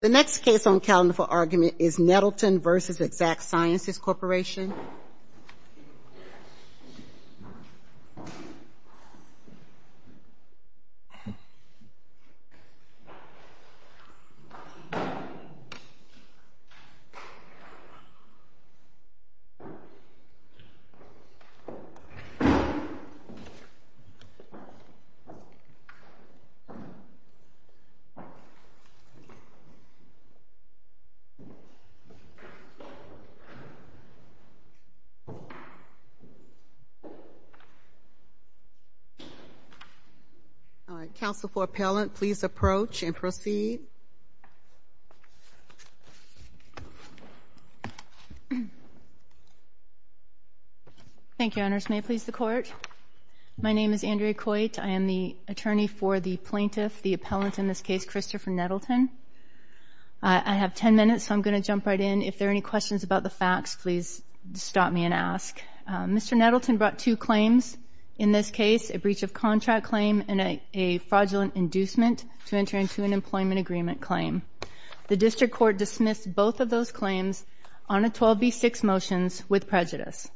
The next case on calendar for argument is Nettleton v. Exact Sciences Corporation. Counsel for Appellant, please approach and proceed. Thank you, Your Honors. May it please the Court? My name is Andrea Coit. I am the attorney for the plaintiff, the appellant in this case, Christopher Nettleton. I have 10 minutes, so I'm going to jump right in. If there are any questions about the facts, please stop me and ask. Mr. Nettleton brought two claims. In this case, a breach of contract claim and a fraudulent inducement to enter into an employment agreement claim. The District Court dismissed both of those claims on a 12B6 motions with prejudice.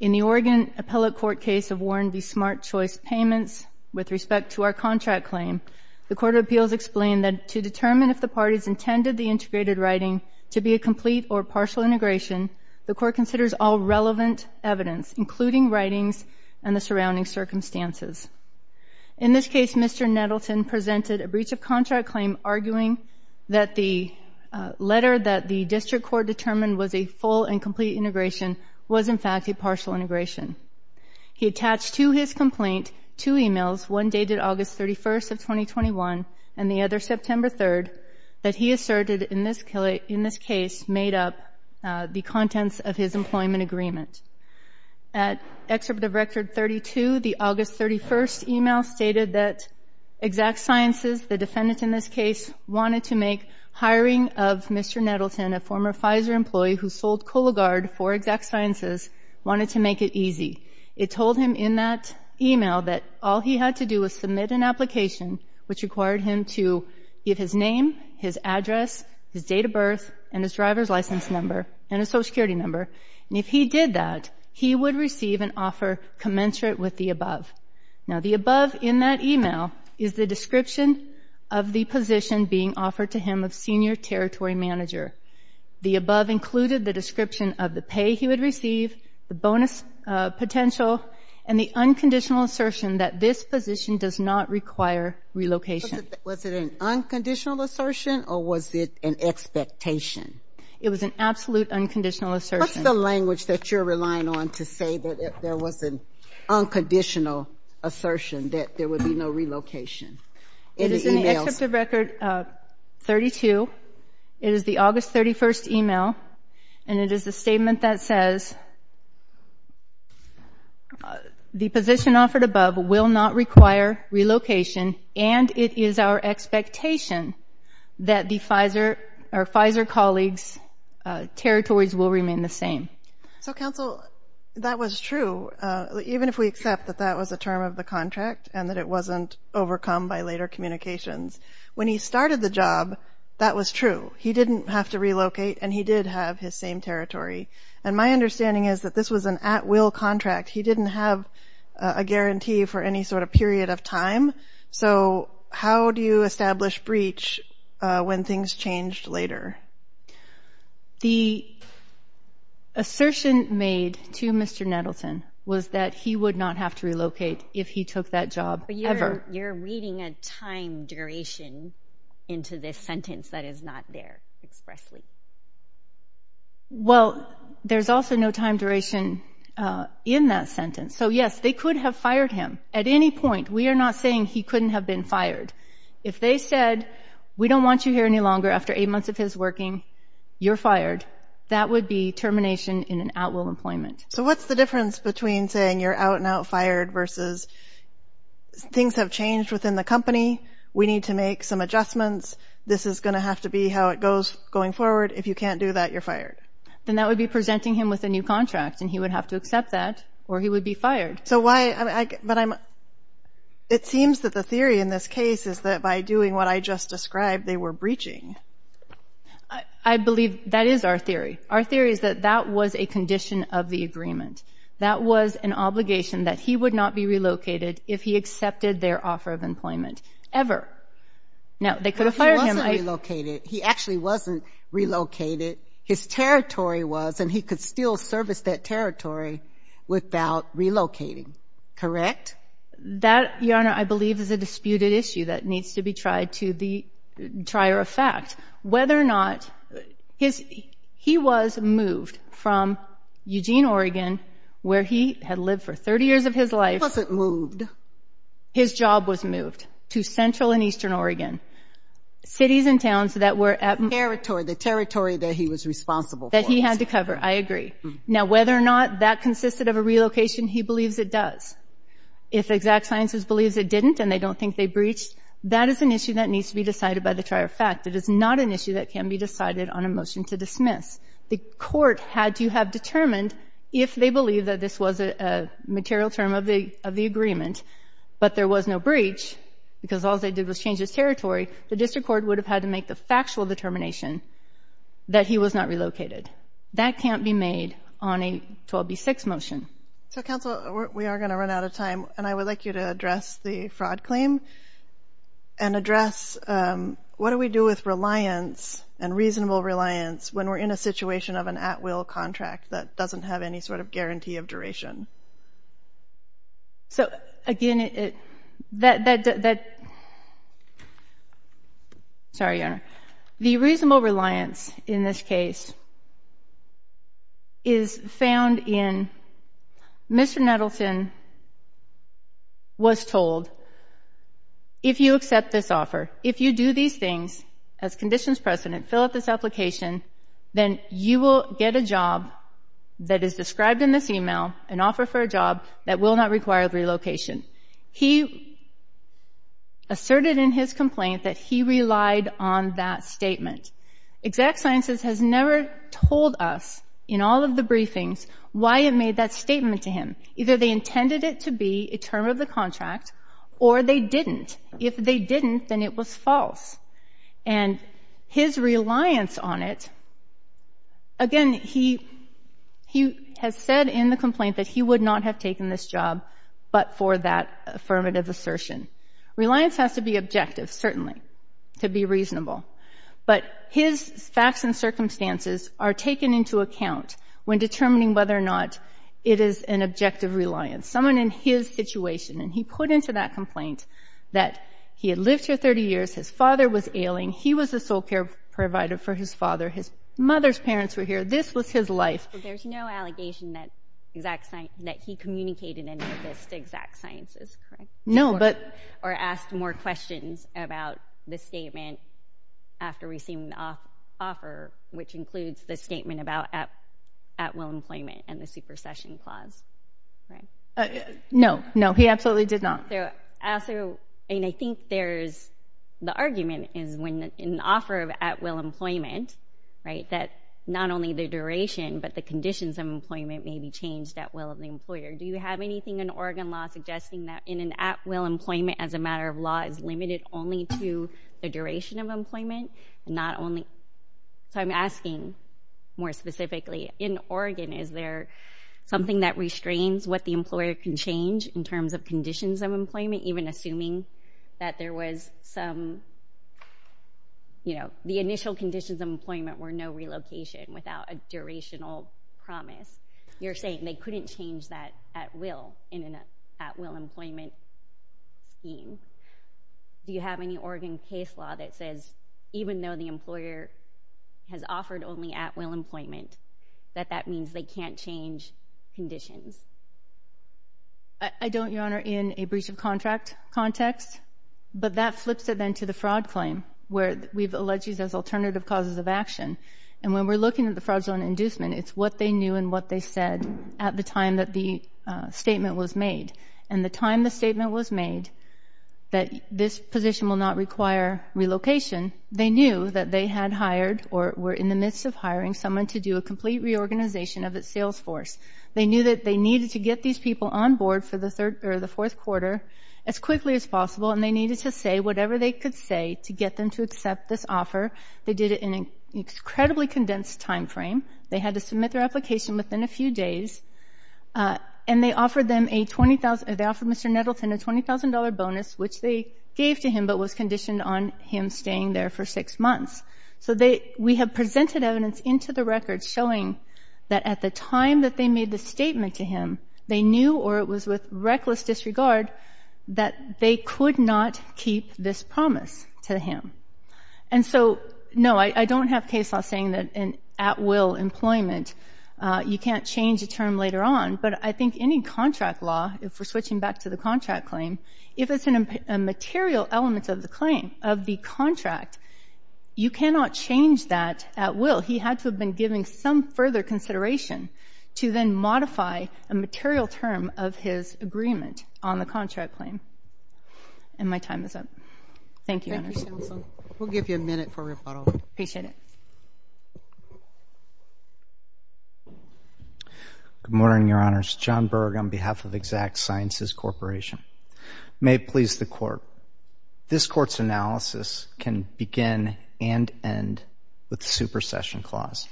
In the Oregon Appellate Court case of Warren v. Smart Choice Payments, with respect to our contract claim, the Court of Appeals explained that to determine if the parties intended the integrated writing to be a complete or partial integration, the Court considers all relevant evidence, including writings and the surrounding circumstances. In this case, Mr. Nettleton presented a breach of contract claim arguing that the letter that the District Court determined was a full and complete integration was, in fact, a partial integration. He attached to his complaint two emails, one dated August 31st of 2021 and the other September 3rd, that he asserted in this case made up the contents of his employment agreement. At Excerpt of Record 32, the August 31st email stated that Exact Sciences, the defendant in this case, wanted to make hiring of Mr. Nettleton, a former Pfizer employee who sold Kologard for Exact Sciences, wanted to make it easy. It told him in that email that all he had to do was submit an application, which required him to give his name, his address, his date of birth, and his driver's license number, and a Social Security number. And if he did that, he would receive an offer commensurate with the above. Now, the above in that email is the description of the position being offered to him of Senior Territory Manager. The above included the description of the pay he would receive, the bonus potential, and the unconditional assertion that this position does not require relocation. Was it an unconditional assertion or was it an expectation? It was an absolute unconditional assertion. What's the language that you're relying on to say that there was an unconditional assertion that there would be no relocation? It is in the Excerpt of Record 32. It is the August 31st email, and it is a statement that says, The position offered above will not require relocation, and it is our expectation that the Pfizer colleagues' territories will remain the same. So, Counsel, that was true, even if we accept that that was a term of the contract and that it wasn't overcome by later communications. When he started the job, that was true. He didn't have to relocate, and he did have his same territory. And my understanding is that this was an at-will contract. He didn't have a guarantee for any sort of period of time. So how do you establish breach when things changed later? The assertion made to Mr. Nettleton was that he would not have to relocate if he took that job ever. But you're reading a time duration into this sentence that is not there expressly. Well, there's also no time duration in that sentence. So, yes, they could have fired him at any point. We are not saying he couldn't have been fired. If they said, We don't want you here any longer after eight months of his working, you're fired, that would be termination in an at-will employment. So what's the difference between saying you're out and out fired versus things have changed within the company, we need to make some adjustments, this is going to have to be how it goes going forward. If you can't do that, you're fired. Then that would be presenting him with a new contract, and he would have to accept that, or he would be fired. It seems that the theory in this case is that by doing what I just described, they were breaching. I believe that is our theory. Our theory is that that was a condition of the agreement. That was an obligation that he would not be relocated if he accepted their offer of employment ever. No, they could have fired him. But he wasn't relocated. He actually wasn't relocated. His territory was, and he could still service that territory without relocating. Correct? That, Your Honor, I believe is a disputed issue that needs to be tried to the trier of fact. Whether or not he was moved from Eugene, Oregon, where he had lived for 30 years of his life. He wasn't moved. His job was moved to central and eastern Oregon. Cities and towns that were at- Territory. The territory that he was responsible for. That he had to cover. I agree. Now, whether or not that consisted of a relocation, he believes it does. If exact sciences believes it didn't, and they don't think they breached, that is an issue that needs to be decided by the trier of fact. It is not an issue that can be decided on a motion to dismiss. The court had to have determined if they believed that this was a material term of the agreement, but there was no breach, because all they did was change his territory, the district court would have had to make the factual determination that he was not relocated. That can't be made on a 12B6 motion. So, counsel, we are going to run out of time, and I would like you to address the fraud claim and address what do we do with reliance and reasonable reliance when we're in a situation of an at-will contract that doesn't have any sort of guarantee of duration. So, again, that- Sorry, Your Honor. The reasonable reliance in this case is found in Mr. Nettleton was told, if you accept this offer, if you do these things as conditions precedent, fill out this application, then you will get a job that is described in this e-mail, an offer for a job that will not require relocation. He asserted in his complaint that he relied on that statement. Exact Sciences has never told us, in all of the briefings, why it made that statement to him. Either they intended it to be a term of the contract, or they didn't. If they didn't, then it was false. And his reliance on it, again, he has said in the complaint that he would not have taken this job, but for that affirmative assertion. Reliance has to be objective, certainly, to be reasonable. But his facts and circumstances are taken into account when determining whether or not it is an objective reliance. Someone in his situation, and he put into that complaint that he had lived here 30 years, his father was ailing, he was a sole care provider for his father, his mother's parents were here, this was his life. There's no allegation that he communicated any of this to Exact Sciences, correct? No, but... Or asked more questions about the statement after receiving the offer, which includes the statement about at-will employment and the supercession clause, right? No, no, he absolutely did not. And I think there's the argument is when in the offer of at-will employment, right, that not only the duration but the conditions of employment may be changed at will of the employer. Do you have anything in Oregon law suggesting that in an at-will employment as a matter of law is limited only to the duration of employment and not only... So I'm asking more specifically, in Oregon, is there something that restrains what the employer can change in terms of conditions of employment, even assuming that there was some, you know, the initial conditions of employment were no relocation without a durational promise. You're saying they couldn't change that at will in an at-will employment scheme. Do you have any Oregon case law that says even though the employer has offered only at-will employment, that that means they can't change conditions? I don't, Your Honor, in a breach of contract context, but that flips it then to the fraud claim where we've alleged these as alternative causes of action. And when we're looking at the fraudulent inducement, it's what they knew and what they said at the time that the statement was made. And the time the statement was made that this position will not require relocation, they knew that they had hired or were in the midst of hiring someone to do a complete reorganization of its sales force. They knew that they needed to get these people on board for the fourth quarter as quickly as possible, and they needed to say whatever they could say to get them to accept this offer. They did it in an incredibly condensed time frame. They had to submit their application within a few days. And they offered Mr. Nettleton a $20,000 bonus, which they gave to him but was conditioned on him staying there for six months. So we have presented evidence into the record showing that at the time that they made the statement to him, they knew or it was with reckless disregard that they could not keep this promise to him. And so, no, I don't have case law saying that in at-will employment you can't change a term later on, but I think any contract law, if we're switching back to the contract claim, if it's a material element of the claim, of the contract, you cannot change that at-will. He had to have been given some further consideration to then modify a material term of his agreement on the contract claim. And my time is up. Thank you, Your Honor. Thank you, Counsel. We'll give you a minute for rebuttal. Appreciate it. Good morning, Your Honors. John Berg on behalf of Exact Sciences Corporation. May it please the Court. This Court's analysis can begin and end with the supersession clause.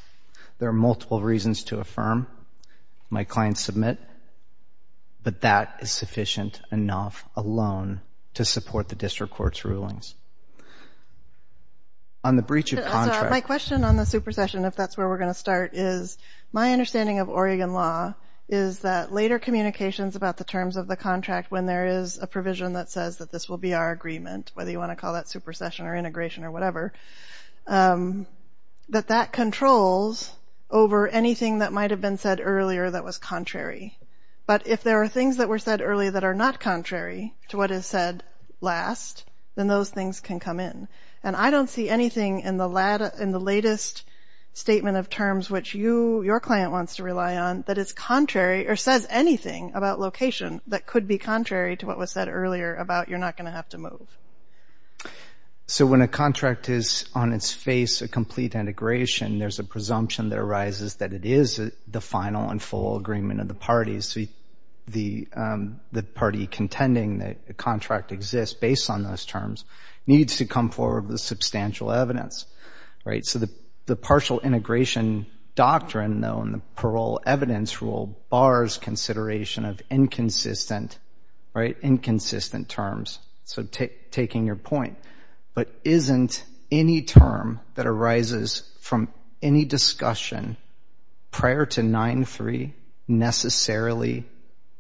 There are multiple reasons to affirm. My clients submit. On the breach of contract. My question on the supersession, if that's where we're going to start, is my understanding of Oregon law is that later communications about the terms of the contract when there is a provision that says that this will be our agreement, whether you want to call that supersession or integration or whatever, that that controls over anything that might have been said earlier that was contrary. But if there are things that were said earlier that are not contrary to what is said last, then those things can come in. And I don't see anything in the latest statement of terms which your client wants to rely on that is contrary or says anything about location that could be contrary to what was said earlier about you're not going to have to move. So when a contract is on its face, a complete integration, there's a presumption that arises that it is the final and full agreement of the parties. The party contending that the contract exists based on those terms needs to come forward with substantial evidence. So the partial integration doctrine, though, and the parole evidence rule bars consideration of inconsistent terms. So taking your point. But isn't any term that arises from any discussion prior to 9-3 necessarily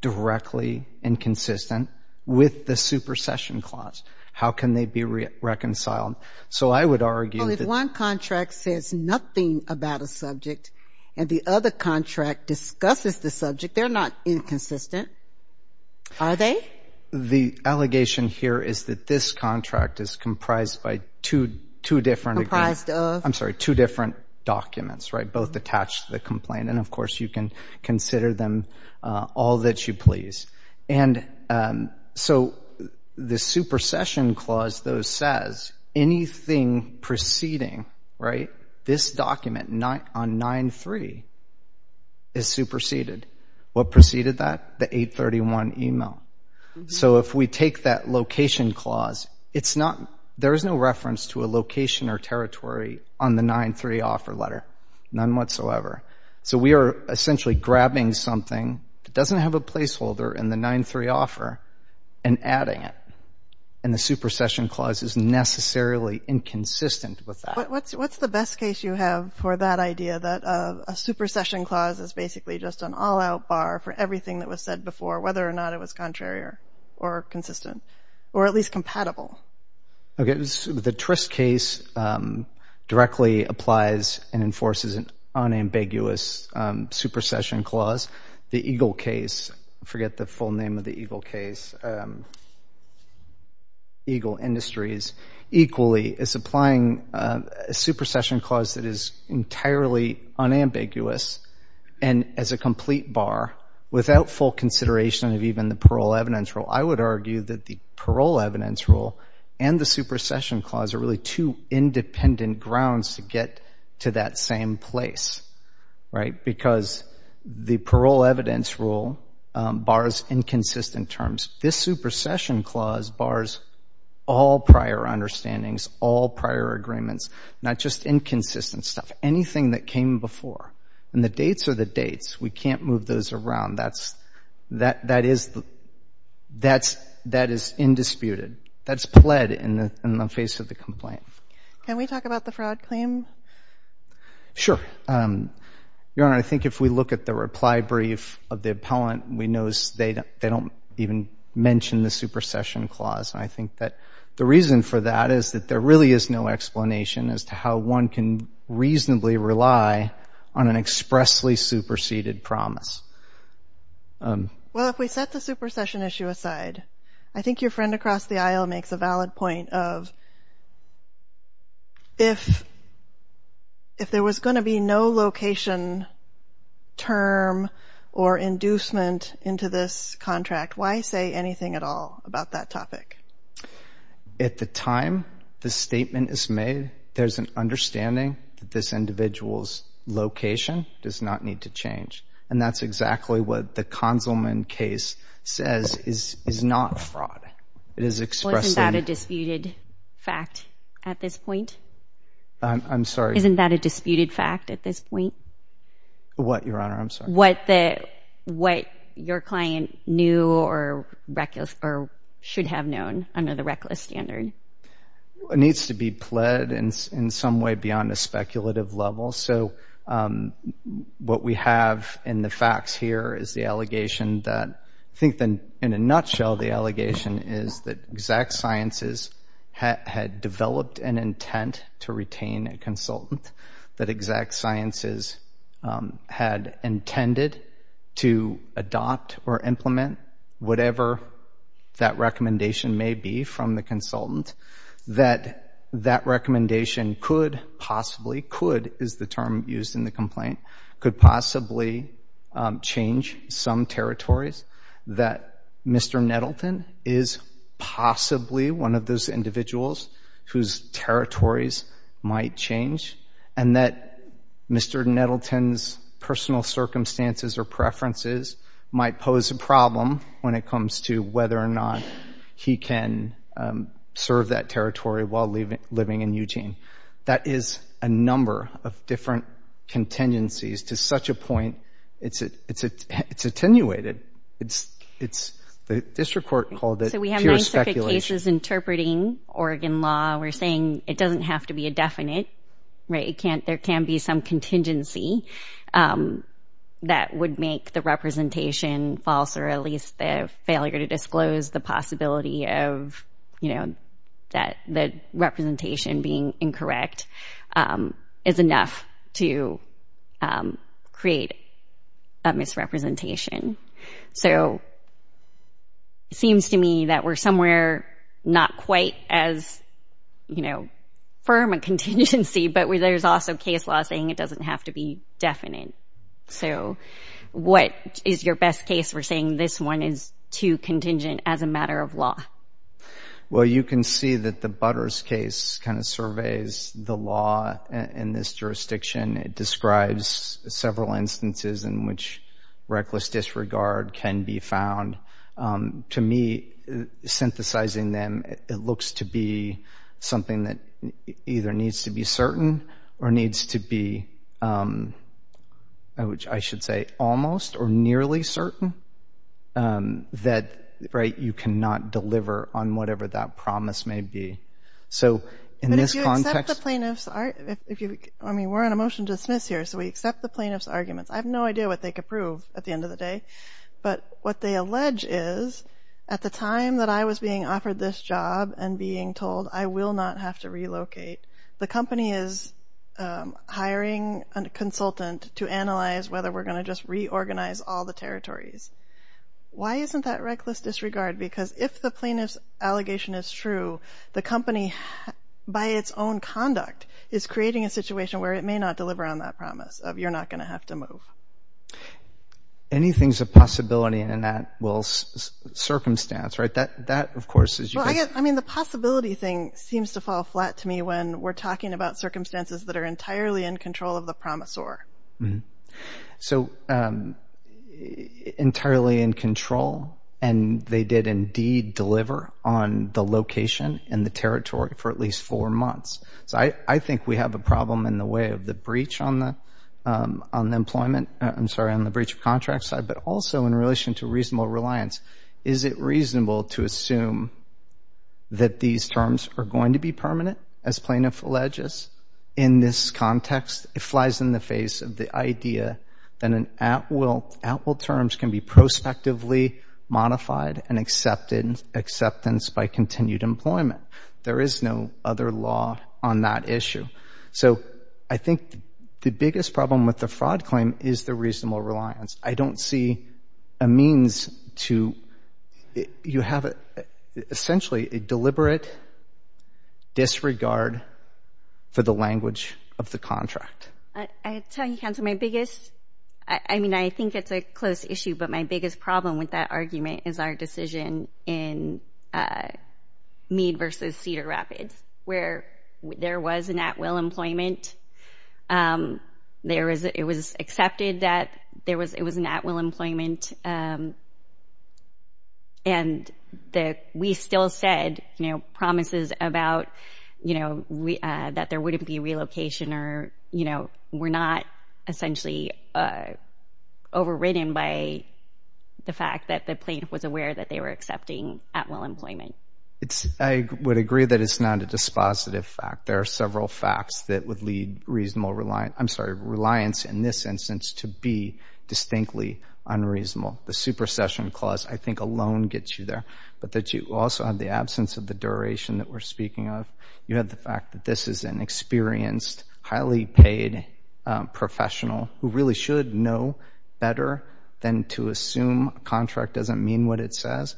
directly inconsistent with the supersession clause? How can they be reconciled? So I would argue that one contract says nothing about a subject and the other contract discusses the subject. They're not inconsistent, are they? I think the allegation here is that this contract is comprised by two different agreements. Comprised of? I'm sorry, two different documents, right, both attached to the complaint. And, of course, you can consider them all that you please. And so the supersession clause, though, says anything preceding this document on 9-3 is superseded. What preceded that? The 831 email. So if we take that location clause, there is no reference to a location or territory on the 9-3 offer letter, none whatsoever. So we are essentially grabbing something that doesn't have a placeholder in the 9-3 offer and adding it. And the supersession clause is necessarily inconsistent with that. What's the best case you have for that idea, that a supersession clause is basically just an all-out bar for everything that was said before, whether or not it was contrary or consistent, or at least compatible? The Trist case directly applies and enforces an unambiguous supersession clause. The Eagle case, I forget the full name of the Eagle case, Eagle Industries, equally is applying a supersession clause that is entirely unambiguous and as a complete bar without full consideration of even the parole evidence rule. I would argue that the parole evidence rule and the supersession clause are really two independent grounds to get to that same place, right, because the parole evidence rule bars inconsistent terms. This supersession clause bars all prior understandings, all prior agreements, not just inconsistent stuff, anything that came before. And the dates are the dates. We can't move those around. That is indisputed. That's pled in the face of the complaint. Can we talk about the fraud claim? Sure. Your Honor, I think if we look at the reply brief of the appellant, we notice they don't even mention the supersession clause. And I think that the reason for that is that there really is no explanation as to how one can reasonably rely on an expressly superseded promise. Well, if we set the supersession issue aside, I think your friend across the aisle makes a valid point of if there was going to be no location term or inducement into this contract, why say anything at all about that topic? At the time the statement is made, there's an understanding that this individual's location does not need to change. And that's exactly what the Kanselman case says is not fraud. It is expressing. Well, isn't that a disputed fact at this point? I'm sorry? Isn't that a disputed fact at this point? What, Your Honor? I'm sorry. What your client knew or should have known under the reckless standard. It needs to be pled in some way beyond a speculative level. So what we have in the facts here is the allegation that, I think in a nutshell, the allegation is that Exact Sciences had developed an intent to retain a consultant, that Exact Sciences had intended to adopt or implement whatever that recommendation may be from the consultant, that that recommendation could possibly, could is the term used in the complaint, could possibly change some territories, that Mr. Nettleton is possibly one of those individuals whose territories might change, and that Mr. Nettleton's personal circumstances or preferences might pose a problem when it comes to whether or not he can serve that territory while living in Eugene. That is a number of different contingencies to such a point. It's attenuated. The district court called it pure speculation. So we have nine separate cases interpreting Oregon law. We're saying it doesn't have to be a definite, right? There can be some contingency that would make the representation false or at least the failure to disclose the possibility of, you know, that the representation being incorrect is enough to create a misrepresentation. So it seems to me that we're somewhere not quite as, you know, firm a contingency, but there's also case law saying it doesn't have to be definite. So what is your best case for saying this one is too contingent as a matter of law? Well, you can see that the Butters case kind of surveys the law in this jurisdiction. It describes several instances in which reckless disregard can be found. To me, synthesizing them, it looks to be something that either needs to be certain or needs to be, I should say, almost or nearly certain that, right, you cannot deliver on whatever that promise may be. So in this context— But if you accept the plaintiff's—I mean, we're on a motion to dismiss here, so we accept the plaintiff's arguments. I have no idea what they could prove at the end of the day, but what they allege is at the time that I was being offered this job and being told I will not have to relocate, the company is hiring a consultant to analyze whether we're going to just reorganize all the territories. Why isn't that reckless disregard? Because if the plaintiff's allegation is true, the company, by its own conduct, is creating a situation where it may not deliver on that promise of you're not going to have to move. Anything's a possibility in that, well, circumstance, right? That, of course, is— Well, I mean, the possibility thing seems to fall flat to me when we're talking about circumstances that are entirely in control of the promisor. So entirely in control, and they did indeed deliver on the location and the territory for at least four months. So I think we have a problem in the way of the breach on the employment— I'm sorry, on the breach of contract side, but also in relation to reasonable reliance. Is it reasonable to assume that these terms are going to be permanent, as plaintiff alleges? In this context, it flies in the face of the idea that an at-will—at-will terms can be prospectively modified and accepted—acceptance by continued employment. There is no other law on that issue. So I think the biggest problem with the fraud claim is the reasonable reliance. I don't see a means to— for the language of the contract. I tell you, counsel, my biggest—I mean, I think it's a close issue, but my biggest problem with that argument is our decision in Meade versus Cedar Rapids, where there was an at-will employment. It was accepted that it was an at-will employment, and we still said, you know, promises about, you know, that there wouldn't be relocation or, you know, were not essentially overridden by the fact that the plaintiff was aware that they were accepting at-will employment. I would agree that it's not a dispositive fact. There are several facts that would lead reasonable reliance— the supersession clause, I think, alone gets you there— but that you also have the absence of the duration that we're speaking of. You have the fact that this is an experienced, highly paid professional who really should know better than to assume a contract doesn't mean what it says.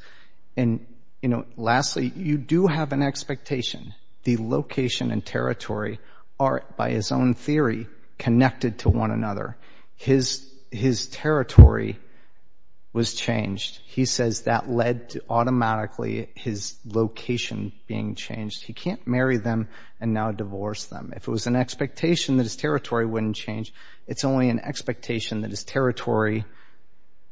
And, you know, lastly, you do have an expectation. The location and territory are, by his own theory, connected to one another. His territory was changed. He says that led to automatically his location being changed. He can't marry them and now divorce them. If it was an expectation that his territory wouldn't change, it's only an expectation that his territory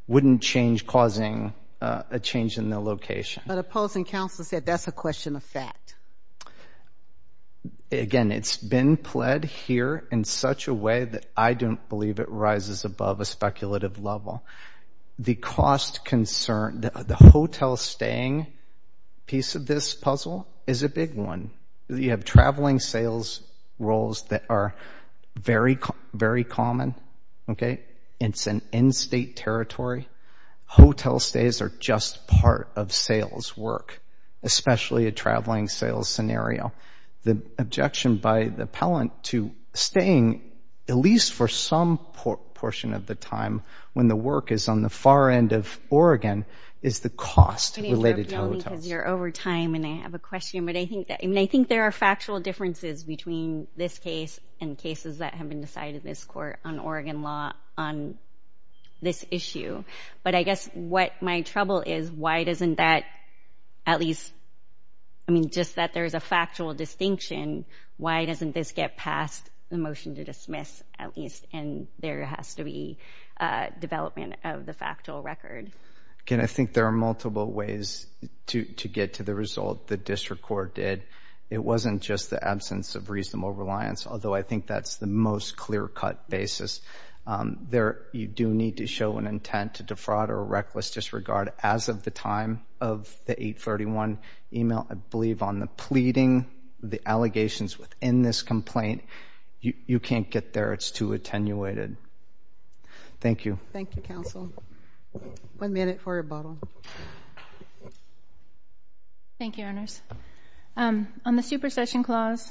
wouldn't change, causing a change in their location. But opposing counsel said that's a question of fact. Again, it's been pled here in such a way that I don't believe it rises above a speculative level. The cost concern, the hotel staying piece of this puzzle is a big one. You have traveling sales roles that are very common, okay? It's an in-state territory. Hotel stays are just part of sales work, especially a traveling sales scenario. The objection by the appellant to staying at least for some portion of the time when the work is on the far end of Oregon is the cost related to hotels. You're over time and I have a question, but I think there are factual differences between this case and cases that have been decided in this court on Oregon law on this issue. But I guess what my trouble is, why doesn't that at least, I mean just that there's a factual distinction, why doesn't this get past the motion to dismiss at least and there has to be development of the factual record? Again, I think there are multiple ways to get to the result. The district court did. It wasn't just the absence of reasonable reliance, although I think that's the most clear-cut basis. You do need to show an intent to defraud or reckless disregard as of the time of the 831 email. I believe on the pleading, the allegations within this complaint, you can't get there. It's too attenuated. Thank you. Thank you, counsel. One minute for rebuttal. Thank you, Your Honors. On the supersession clause,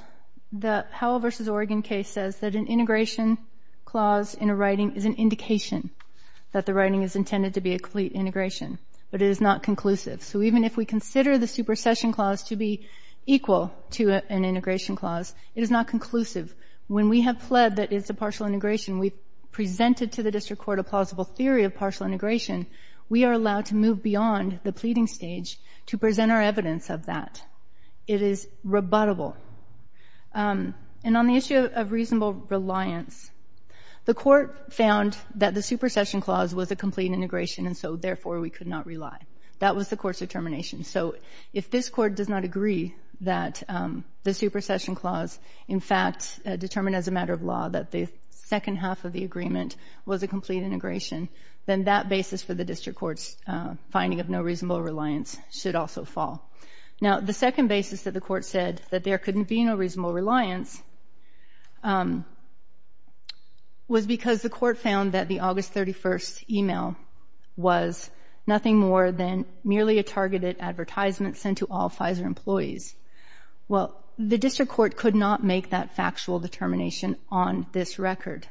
the Howell v. Oregon case says that an integration clause in a writing is an indication that the writing is intended to be a complete integration, but it is not conclusive. So even if we consider the supersession clause to be equal to an integration clause, it is not conclusive. When we have pled that it's a partial integration, we've presented to the district court a plausible theory of partial integration. We are allowed to move beyond the pleading stage to present our evidence of that. It is rebuttable. And on the issue of reasonable reliance, the court found that the supersession clause was a complete integration, and so, therefore, we could not rely. That was the court's determination. So if this court does not agree that the supersession clause, in fact, determined as a matter of law that the second half of the agreement was a complete integration, then that basis for the district court's finding of no reasonable reliance should also fall. Now, the second basis that the court said that there couldn't be no reasonable reliance was because the court found that the August 31st email was nothing more than merely a targeted advertisement sent to all Pfizer employees. Well, the district court could not make that factual determination on this record.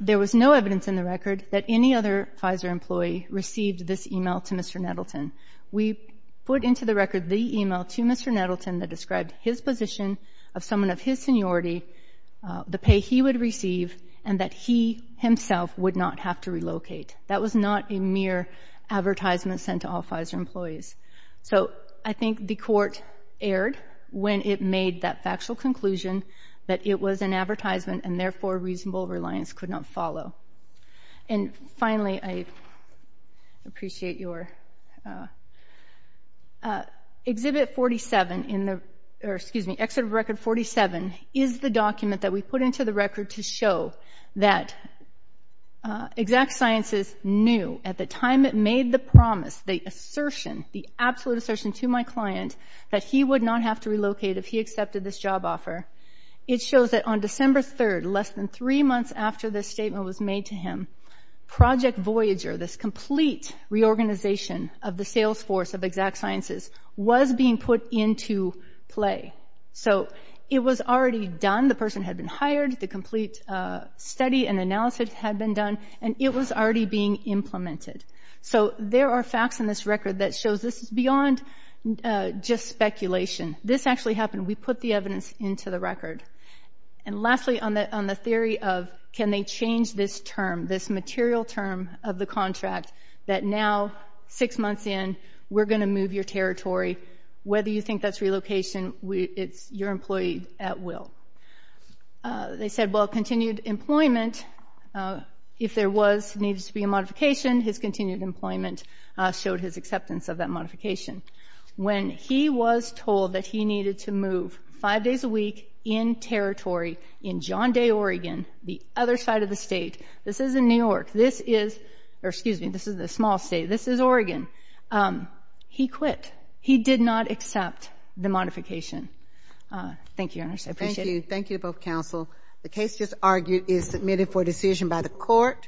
There was no evidence in the record that any other Pfizer employee received this email to Mr. Nettleton. We put into the record the email to Mr. Nettleton that described his position of someone of his seniority, the pay he would receive, and that he himself would not have to relocate. That was not a mere advertisement sent to all Pfizer employees. So I think the court erred when it made that factual conclusion that it was an advertisement and therefore reasonable reliance could not follow. And finally, I appreciate your exhibit 47 in the exit of record 47 is the document that we put into the record to show that Exact Sciences knew at the time it made the promise, the assertion, the absolute assertion to my client that he would not have to relocate if he accepted this job offer. It shows that on December 3rd, less than three months after this statement was made to him, Project Voyager, this complete reorganization of the sales force of Exact Sciences, was being put into play. So it was already done. The person had been hired, the complete study and analysis had been done, and it was already being implemented. So there are facts in this record that shows this is beyond just speculation. This actually happened. We put the evidence into the record. And lastly, on the theory of can they change this term, this material term of the contract, that now, six months in, we're going to move your territory. Whether you think that's relocation, it's your employee at will. They said, well, continued employment, if there was needed to be a modification, his continued employment showed his acceptance of that modification. When he was told that he needed to move five days a week in territory in John Day, Oregon, the other side of the state, this isn't New York. This is the small state. This is Oregon. He quit. He did not accept the modification. Thank you, Your Honor. I appreciate it. Thank you. Thank you to both counsel. The case just argued is submitted for decision by the court.